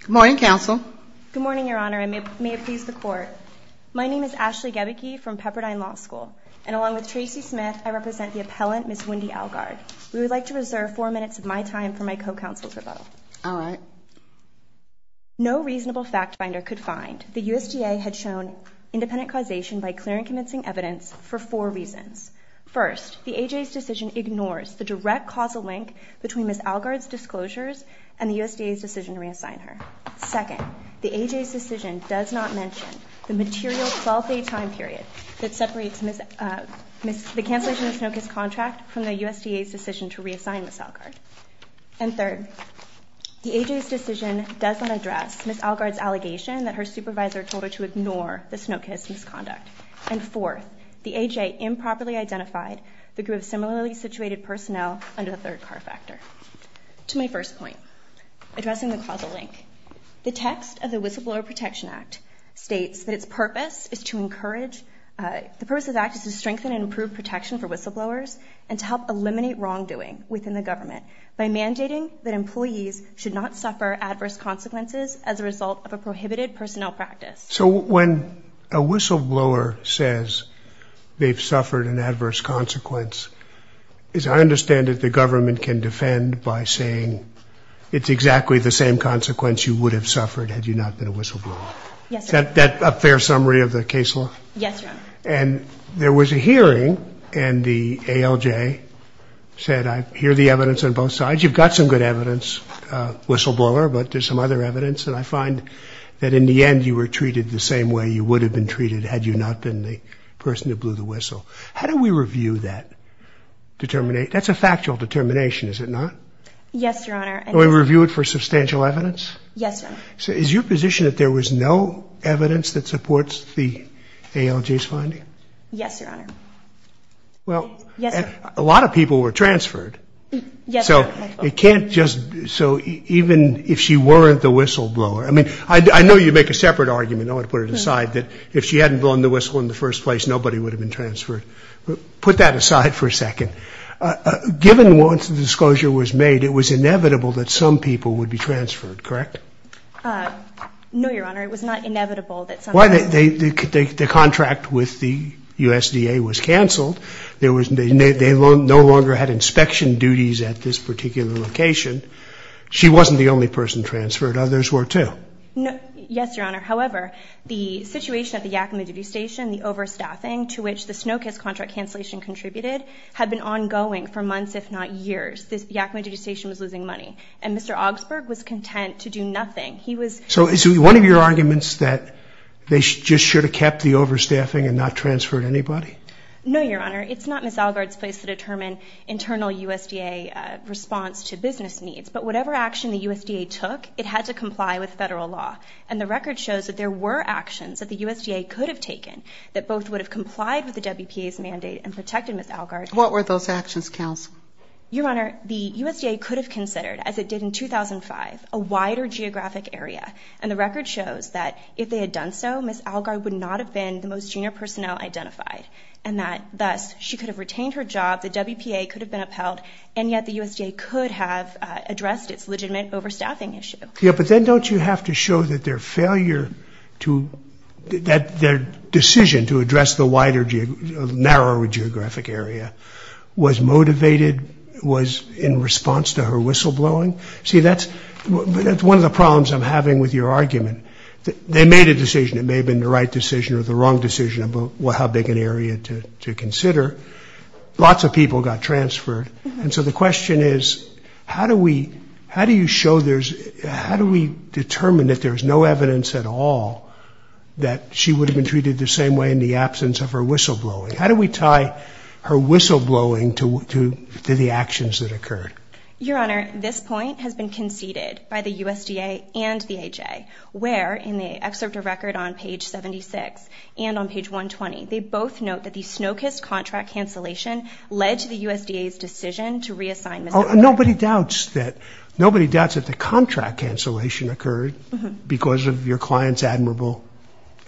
Good morning, Counsel. Good morning, Your Honor, and may it please the Court. My name is Ashley Gebeke from Pepperdine Law School, and along with Tracy Smith, I represent the appellant, Ms. Wendy Alguard. We would like to reserve four minutes of my time for my co-counsel's rebuttal. All right. No reasonable fact finder could find that the USDA had shown independent causation by clear and convincing evidence for four reasons. First, the AJA's decision to reassign her. Second, the AJA's decision does not mention the material 12-day time period that separates the cancellation of the Snokas contract from the USDA's decision to reassign Ms. Alguard. And third, the AJA's decision does not address Ms. Alguard's allegation that her supervisor told her to ignore the Snokas misconduct. And fourth, the AJA improperly under the third-car factor. To my first point, addressing the causal link, the text of the Whistleblower Protection Act states that its purpose is to encourage, the purpose of the Act is to strengthen and improve protection for whistleblowers and to help eliminate wrongdoing within the government by mandating that employees should not suffer adverse consequences as a result of a prohibited personnel practice. So when a whistleblower says they've suffered an adverse consequence, as I understand it, the government can defend by saying it's exactly the same consequence you would have suffered had you not been a whistleblower. Is that a fair summary of the case law? Yes, Your Honor. And there was a hearing and the ALJ said I hear the evidence on both sides. You've got some good evidence, whistleblower, but there's some other evidence that I find that in the end you were treated the same way you would have been treated had you not been the person who blew the whistle. How do we review that determination? That's a factual determination, is it not? Yes, Your Honor. And we review it for substantial evidence? Yes, Your Honor. So is your position that there was no evidence that supports the ALJ's finding? Yes, Your Honor. Well, a lot of people were transferred. Yes, Your Honor. So it can't just, so even if she weren't the whistleblower, I mean, I know you make a separate argument, I want to put it aside, that if she hadn't blown the whistle in the first place, nobody would have been transferred. Put that aside for a second. Given once the disclosure was made, it was inevitable that some people would be transferred, correct? No, Your Honor. It was not inevitable that some people would be transferred. Why? The contract with the USDA was canceled. There was, they no longer had inspection duties at this particular location. She wasn't the only person transferred. Others were too. Yes, Your Honor. However, the situation at the Yakima Duty Station, the overstaffing to which the Snow Kiss contract cancellation contributed, had been ongoing for months, if not years. The Yakima Duty Station was losing money, and Mr. Augsburg was content to do nothing. He was... So is it one of your arguments that they just should have kept the overstaffing and not transferred anybody? No, Your Honor. It's not Ms. Allgaard's place to determine internal USDA response to business needs, but whatever action the USDA took, it had to comply with federal law, and the record shows that there were actions that the USDA could have taken that both would have complied with the WPA's mandate and protected Ms. Allgaard. What were those actions, counsel? Your Honor, the USDA could have considered, as it did in 2005, a wider geographic area, and the record shows that if they had done so, Ms. Allgaard would not have been the most junior personnel identified, and that thus she could have retained her job, the WPA could have been upheld, and yet the USDA could have addressed its legitimate overstaffing issue. Yeah, but then don't you have to show that their failure to... that their decision to address the wider, narrower geographic area was motivated, was in response to her whistleblowing? See, that's one of the problems I'm having with your argument. They made a decision. It may have been the right decision or the wrong decision about how big an area to consider. Lots of people got transferred, and so the question is, how do we... how do you show there's... how do we determine that there's no evidence at all that she would have been treated the same way in the absence of her whistleblowing? How do we tie her whistleblowing to the actions that occurred? Your Honor, this point has been conceded by the both note that the Snokus contract cancellation led to the USDA's decision to reassign Ms. Allgaard. Nobody doubts that... nobody doubts that the contract cancellation occurred because of your client's admirable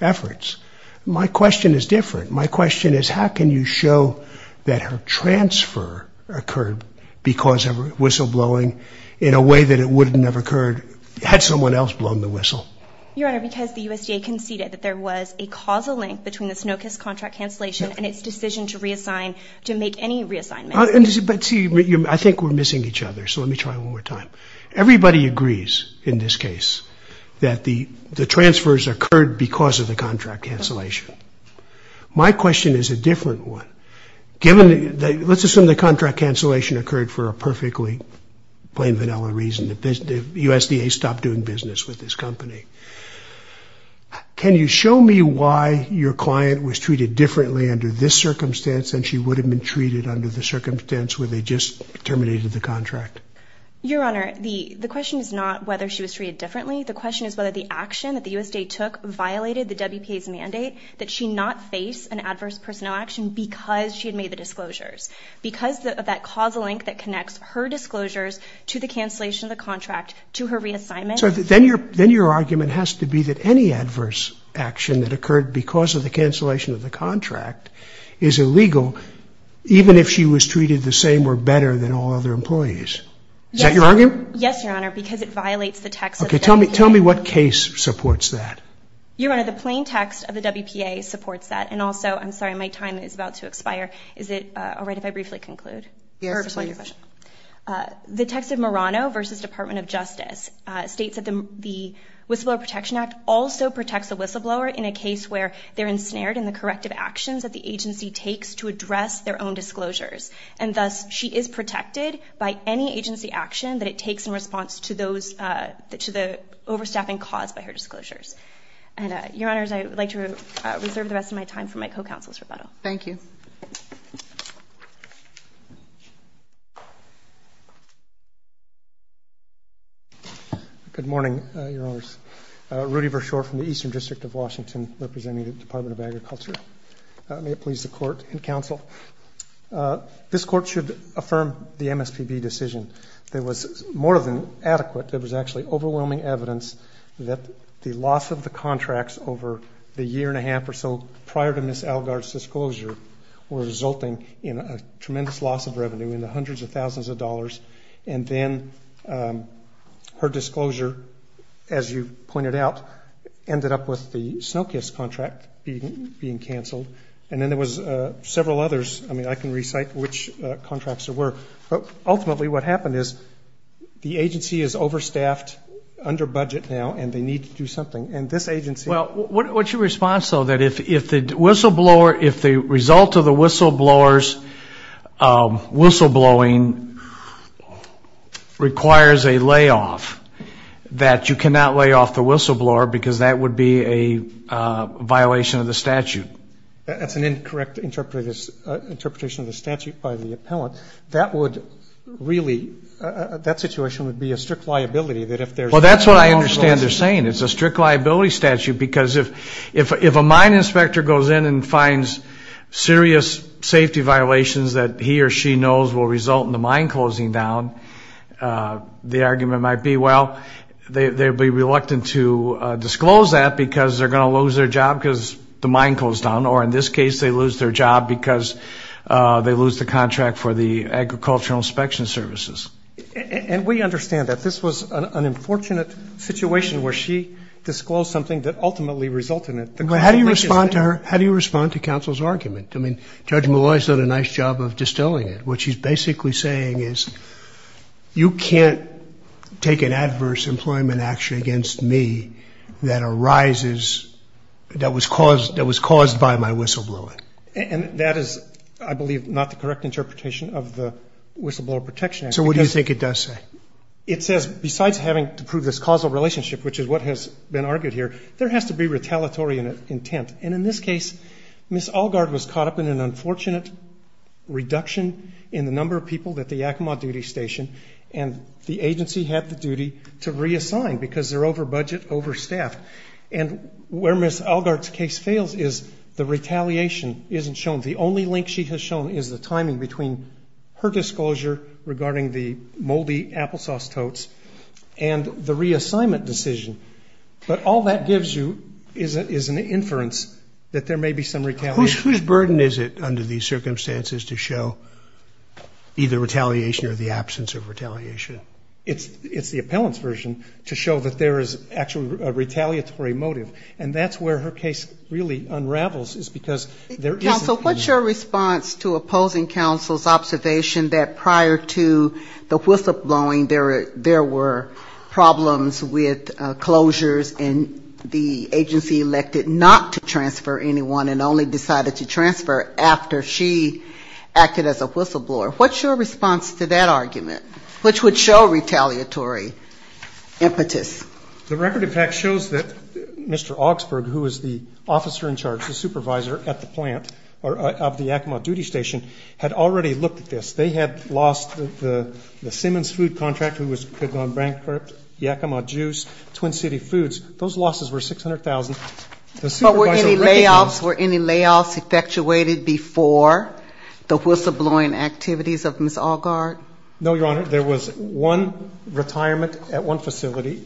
efforts. My question is different. My question is, how can you show that her transfer occurred because of whistleblowing in a way that it wouldn't have occurred had someone else blown the whistle? Your Honor, because the USDA conceded that there was a causal link between the Snokus contract cancellation and its decision to reassign... to make any reassignment. But see, I think we're missing each other, so let me try one more time. Everybody agrees in this case that the the transfers occurred because of the contract cancellation. My question is a different one. Given that... let's assume the contract cancellation occurred for a perfectly plain vanilla reason. The USDA stopped doing business with this company. Can you show me why your client was treated differently under this circumstance than she would have been treated under the circumstance where they just terminated the contract? Your Honor, the question is not whether she was treated differently. The question is whether the action that the USDA took violated the WPA's mandate that she not face an adverse personnel action because she had made the disclosures. Because of that causal link that connects her disclosures to the cancellation of the contract to her reassignment... Then your argument has to be that any adverse action that occurred because of the cancellation of the contract is illegal, even if she was treated the same or better than all other employees. Is that your argument? Yes, Your Honor, because it violates the text... Okay, tell me what case supports that. Your Honor, the plain text of the WPA supports that. And also, I'm sorry, my time is about to expire. Is it all right if I briefly conclude? Yes, please. The text of Morano v. Department of Justice states that the Whistleblower Protection Act also protects a whistleblower in a case where they're ensnared in the corrective actions that the agency takes to address their own disclosures. And thus, she is protected by any agency action that it takes in response to the overstaffing caused by her disclosures. Your Honor, I would like to reserve the rest of my time for my co-counsel's rebuttal. Thank you. Good morning, Your Honors. Rudy Vershoor from the Eastern District of Washington, representing the Department of Agriculture. May it please the Court and Counsel, this Court should affirm the MSPB decision. There was more than adequate, there was actually overwhelming evidence that the loss of the contracts over the year and a half or so prior to Ms. Algar's disclosure were resulting in a tremendous loss of revenue in the hundreds of thousands of dollars. And then her disclosure, as you pointed out, ended up with the snow kiss contract being canceled. And then there was several others. I mean, I can recite which contracts there were. But ultimately, what happened is the agency is overstaffed under budget now and they need to do something. And this agency... Well, what's your response, though, that if the whistleblower, if the result of the whistleblower's whistleblowing requires a layoff, that you cannot lay off the whistleblower because that would be a violation of the statute? That's an incorrect interpretation of the statute by the appellant. That would really, that situation would be a strict liability that if there's... That's what I understand they're saying. It's a strict liability statute because if a mine inspector goes in and finds serious safety violations that he or she knows will result in the mine closing down, the argument might be, well, they'd be reluctant to disclose that because they're going to lose their job because the mine closed down. Or in this case, they lose their job because they lose the contract for the agricultural inspection services. And we understand that. This was an unfortunate situation where she disclosed something that ultimately resulted in it. But how do you respond to her? How do you respond to counsel's argument? I mean, Judge Malloy has done a nice job of distilling it. What she's basically saying is, you can't take an adverse employment action against me that arises, that was caused by my whistleblowing. And that is, I believe, not the correct interpretation of the case. Besides having to prove this causal relationship, which is what has been argued here, there has to be retaliatory intent. And in this case, Ms. Allgaard was caught up in an unfortunate reduction in the number of people that the Yakima duty station and the agency had the duty to reassign because they're over budget, over staff. And where Ms. Allgaard's case fails is the retaliation isn't shown. The only link she has shown is the timing between her disclosure regarding the moldy applesauce totes and the reassignment decision. But all that gives you is an inference that there may be some retaliation. Whose burden is it under these circumstances to show either retaliation or the absence of retaliation? It's the appellant's version to show that there is actually a retaliatory motive. And that's where her case really unravels is because there isn't... to opposing counsel's observation that prior to the whistleblowing, there were problems with closures and the agency elected not to transfer anyone and only decided to transfer after she acted as a whistleblower. What's your response to that argument? Which would show retaliatory impetus? The record, in fact, shows that Mr. Augsburg, who is the officer in charge, the supervisor at the Yakima duty station, had already looked at this. They had lost the Simmons food contract, who had gone bankrupt, Yakima juice, Twin City Foods. Those losses were $600,000. But were any layoffs effectuated before the whistleblowing activities of Ms. Allgaard? No, Your Honor. There was one retirement at one facility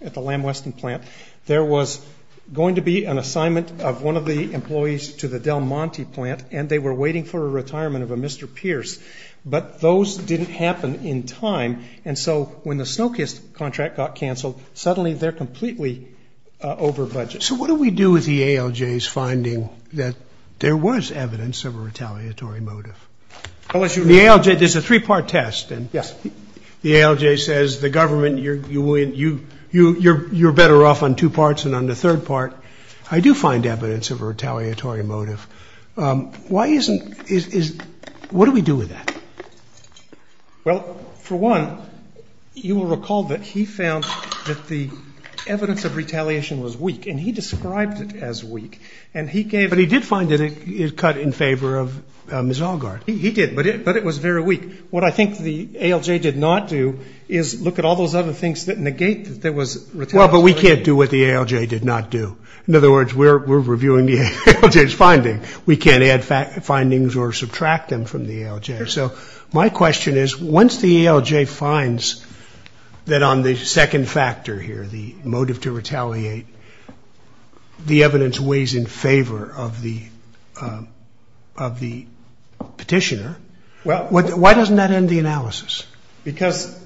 at the Lamb Weston plant. There was going to be an assignment of one of the employees to the Del Monte plant, and they were waiting for a retirement of a Mr. Pierce. But those didn't happen in time. And so when the Snokiest contract got canceled, suddenly they're completely over budget. So what do we do with the ALJ's finding that there was evidence of a retaliatory motive? The ALJ, there's a three-part test. Yes. The ALJ says the government, you're better off on two parts than on the third part. I do find evidence of a retaliatory motive. Why isn't, is, what do we do with that? Well, for one, you will recall that he found that the evidence of retaliation was weak, and he described it as weak. And he gave it. He did find that it cut in favor of Ms. Allgaard. He did, but it was very weak. What I think the ALJ did not do is look at all those other things that negate that there was retaliation. Well, but we can't do what the ALJ did not do. In other words, we're reviewing the ALJ's finding. We can't add findings or subtract them from the ALJ. So my question is, once the ALJ finds that on the second factor here, the motive to retaliate, the evidence weighs in favor of the petitioner, why doesn't that end the analysis? Because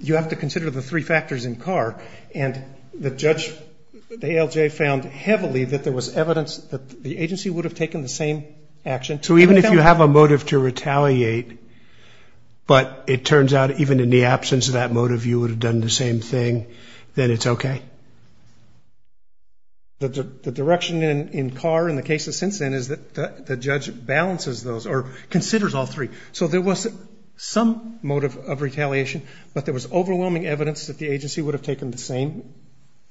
you have to consider the three factors in CAR. And the judge, the ALJ, found heavily that there was evidence that the agency would have taken the same action. So even if you have a motive to retaliate, but it turns out even in the absence of that motive, you would have done the same thing, then it's okay? The direction in CAR and the cases since then is that the judge balances those, or considers all three. So there was some motive of retaliation, but there was overwhelming evidence that the agency would have taken the same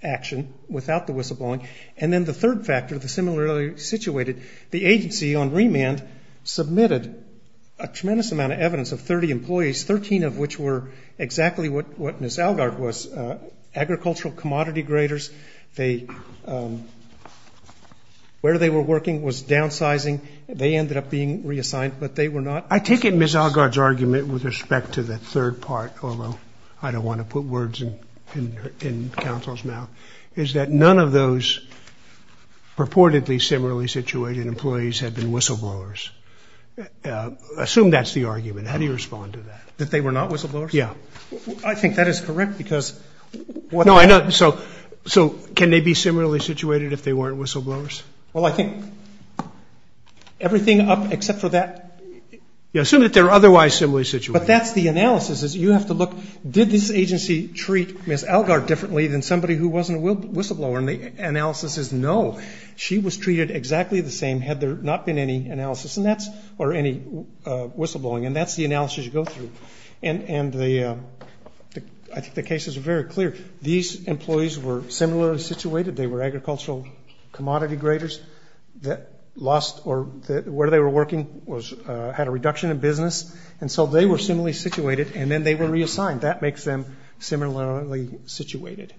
action without the whistleblowing. And then the third factor, the similarly situated, the agency on remand submitted a tremendous amount of evidence of 30 employees, 13 of which were exactly what Ms. Allgaard was, agricultural commodity graders. They, where they were working was downsizing. They ended up being reassigned, but they were not. I take it Ms. Allgaard's argument with respect to the third part, although I don't want to put words in counsel's mouth, is that none of those purportedly similarly situated employees had been whistleblowers. Assume that's the argument. How do you respond to that? That they were not whistleblowers? Yeah. I think that is correct because... So can they be similarly situated if they weren't whistleblowers? Well, I think everything up except for that... You assume that they're otherwise similarly situated. But that's the analysis. You have to look, did this agency treat Ms. Allgaard differently than somebody who wasn't a whistleblower? And the analysis is no, she was treated exactly the same had there not been any analysis or any whistleblowing. And that's the analysis you go through. And I think the cases are very clear. These employees were similarly situated. They were agricultural commodity graders that lost... Or where they were working had a reduction in business. And so they were similarly situated and then they were reassigned. That makes them similarly situated.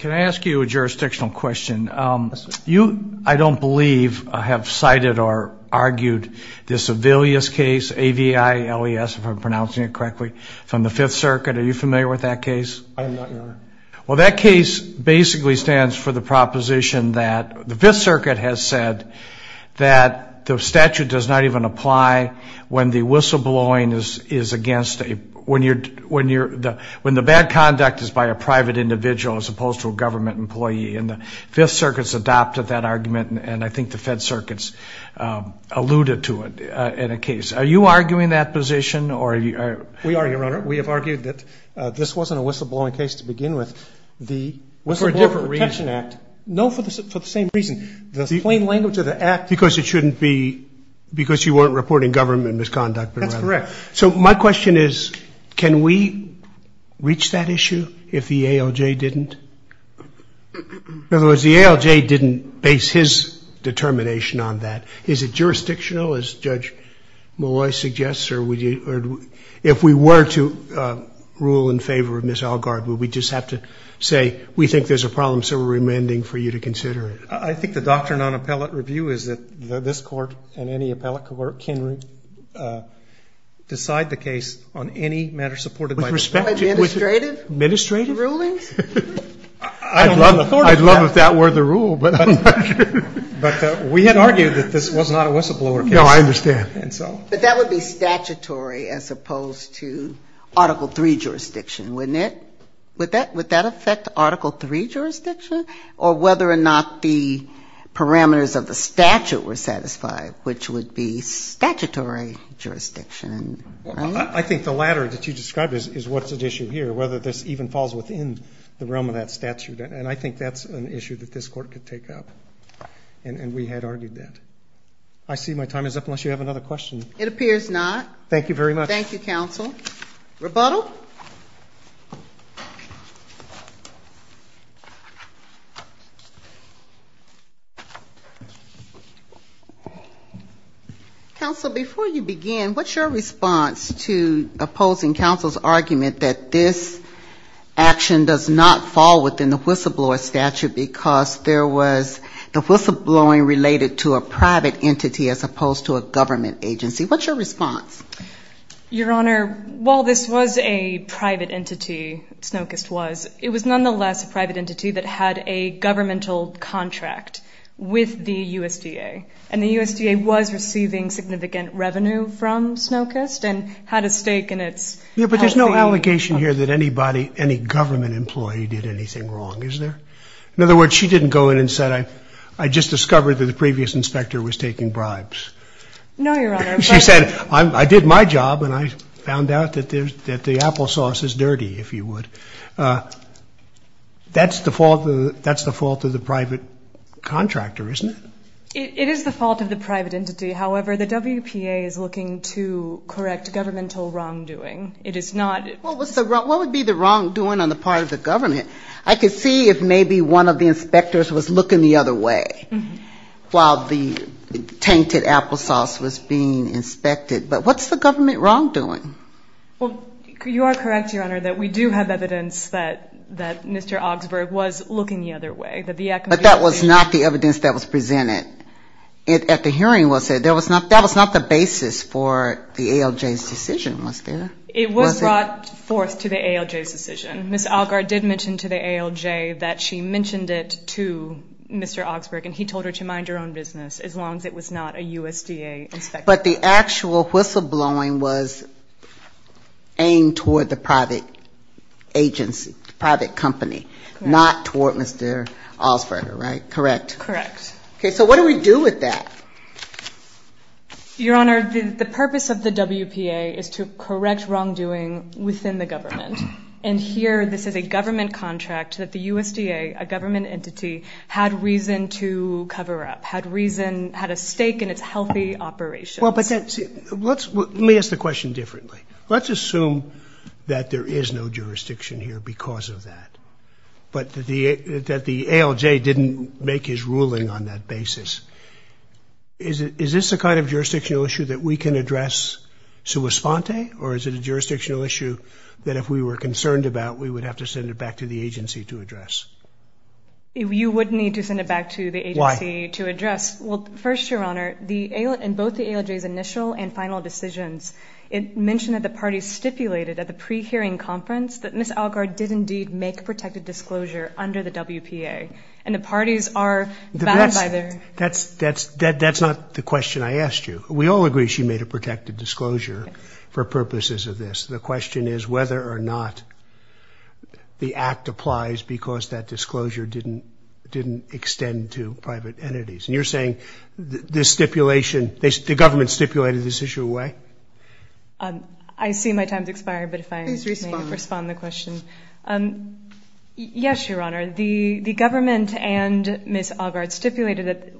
Can I ask you a jurisdictional question? I don't believe I have cited or argued this Avelius case, A-V-I-L-E-S, if I'm pronouncing it correctly, from the Fifth Circuit. Are you familiar with that case? I am not, Your Honor. Well, that case basically stands for the proposition that the Fifth Circuit has said that the statute does not even apply when the bad conduct is by a private individual as opposed to a government employee. And the Fifth Circuit's adopted that argument. And I think the Fed Circuit's alluded to it in a case. Are you arguing that position? We are, Your Honor. We have argued that this wasn't a whistleblowing case to begin with. The Whistleblower Protection Act... No, for the same reason. The plain language of the act... Because it shouldn't be... Because you weren't reporting government misconduct. That's correct. So my question is, can we reach that issue if the ALJ didn't? In other words, the ALJ didn't base his determination on that. Is it jurisdictional, as Judge Malloy suggests? Or if we were to rule in favor of Ms. Algard, would we just have to say, we think there's a problem, so we're remanding for you to consider it? I think the doctrine on appellate review is that this Court and any appellate court can decide the case on any matter supported by... By administrative... Administrative... ...rulings? I don't know if that's an authority... I'd love if that were the rule, but I'm not sure. But we had argued that this was not a whistleblower case. No, I understand. But that would be statutory as opposed to Article III jurisdiction, wouldn't it? Would that affect Article III jurisdiction? Or whether or not the parameters of the statute were satisfied, which would be statutory jurisdiction, right? I think the latter that you described is what's at issue here, whether this even falls within the realm of that statute. And I think that's an issue that this Court could take up. And we had argued that. I see my time is up unless you have another question. It appears not. Thank you very much. Thank you, counsel. Rebuttal? Counsel, before you begin, what's your response to opposing counsel's argument that this action does not fall within the whistleblower statute because there was the whistleblowing related to a private entity as opposed to a government agency? What's your response? Your Honor, while this was a private entity, Snokest was, it was nonetheless a private entity that had a governmental contract with the USDA. And the USDA was receiving significant revenue from Snokest and had a stake in its... Yeah, but there's no allegation here that anybody, any government employee did anything wrong, is there? In other words, she didn't go in and said, I just discovered that the previous inspector was taking bribes. No, Your Honor. She said, I did my job and I found out that the applesauce is dirty, if you would. That's the fault of the private contractor, isn't it? It is the fault of the private entity. However, the WPA is looking to correct governmental wrongdoing. It is not... What would be the wrongdoing on the part of the government? I could see if maybe one of the inspectors was looking the other way while the tainted applesauce was being inspected. But what's the government wrongdoing? Well, you are correct, Your Honor, that we do have evidence that Mr. Augsburg was looking the other way. But that was not the evidence that was presented at the hearing, was it? That was not the basis for the ALJ's decision, was there? It was brought forth to the ALJ's decision. Ms. Algar did mention to the ALJ that she mentioned it to Mr. Augsburg, and he told her to mind her own business as long as it was not a USDA inspector. But the actual whistleblowing was aimed toward the private agency, the private company, not toward Mr. Augsburg, right? Correct? Correct. Okay. So what do we do with that? Your Honor, the purpose of the WPA is to correct wrongdoing within the government. And here, this is a government contract that the USDA, a government entity, had reason to cover up, had reason, had a stake in its healthy operations. Well, but let me ask the question differently. Let's assume that there is no jurisdiction here because of that, but that the ALJ didn't make his ruling on that basis. Is this a kind of jurisdictional issue that we can address sua sponte, or is it a jurisdictional issue that if we were concerned about, we would have to send it back to the agency to address? You would need to send it back to the agency to address. Well, first, Your Honor, in both the ALJ's initial and final decisions, it mentioned that the parties stipulated at the pre-hearing conference that Ms. Algar did indeed make a protected disclosure under the WPA. And the parties are bound by their... That's not the question I asked you. We all agree she made a protected disclosure for purposes of this. The question is whether or not the act applies because that disclosure didn't extend to private entities. And you're saying this stipulation, the government stipulated this issue away? I see my time has expired, but if I may respond to the question. Yes, Your Honor, the government and Ms. Algar stipulated that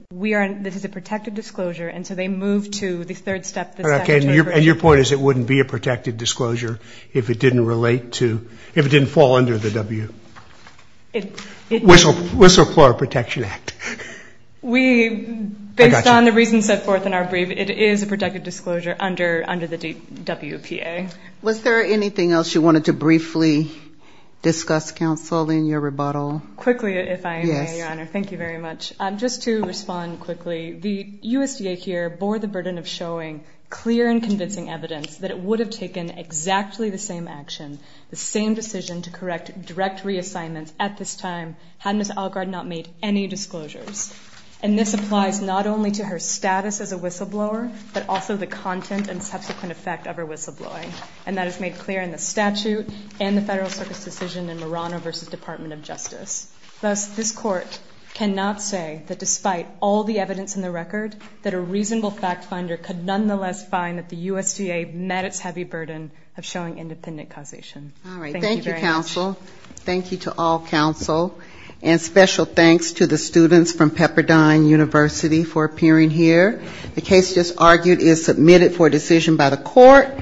this is a protected disclosure, and so they moved to the third step. And your point is it wouldn't be a protected disclosure if it didn't fall under the W... Whistleblower Protection Act. Based on the reasons set forth in our brief, it is a protected disclosure under the WPA. Was there anything else you wanted to briefly discuss, counsel, in your rebuttal? Quickly, if I may, Your Honor. Thank you very much. Just to respond quickly, the USDA here bore the burden of showing clear and convincing evidence that it would have taken exactly the same action, the same decision to correct direct reassignments at this time had Ms. Algar not made any disclosures. And this applies not only to her status as a whistleblower, but also the content and subsequent effect of her whistleblowing. And that is made clear in the statute and the Federal Circuit's decision in Marano v. Department of Justice. Thus, this Court cannot say that despite all the evidence in the record, that a reasonable fact finder could nonetheless find that the USDA met its heavy burden of showing independent causation. All right. Thank you, counsel. Thank you to all counsel. And special thanks to the students from Pepperdine University for appearing here. The case just argued is submitted for decision by the Court.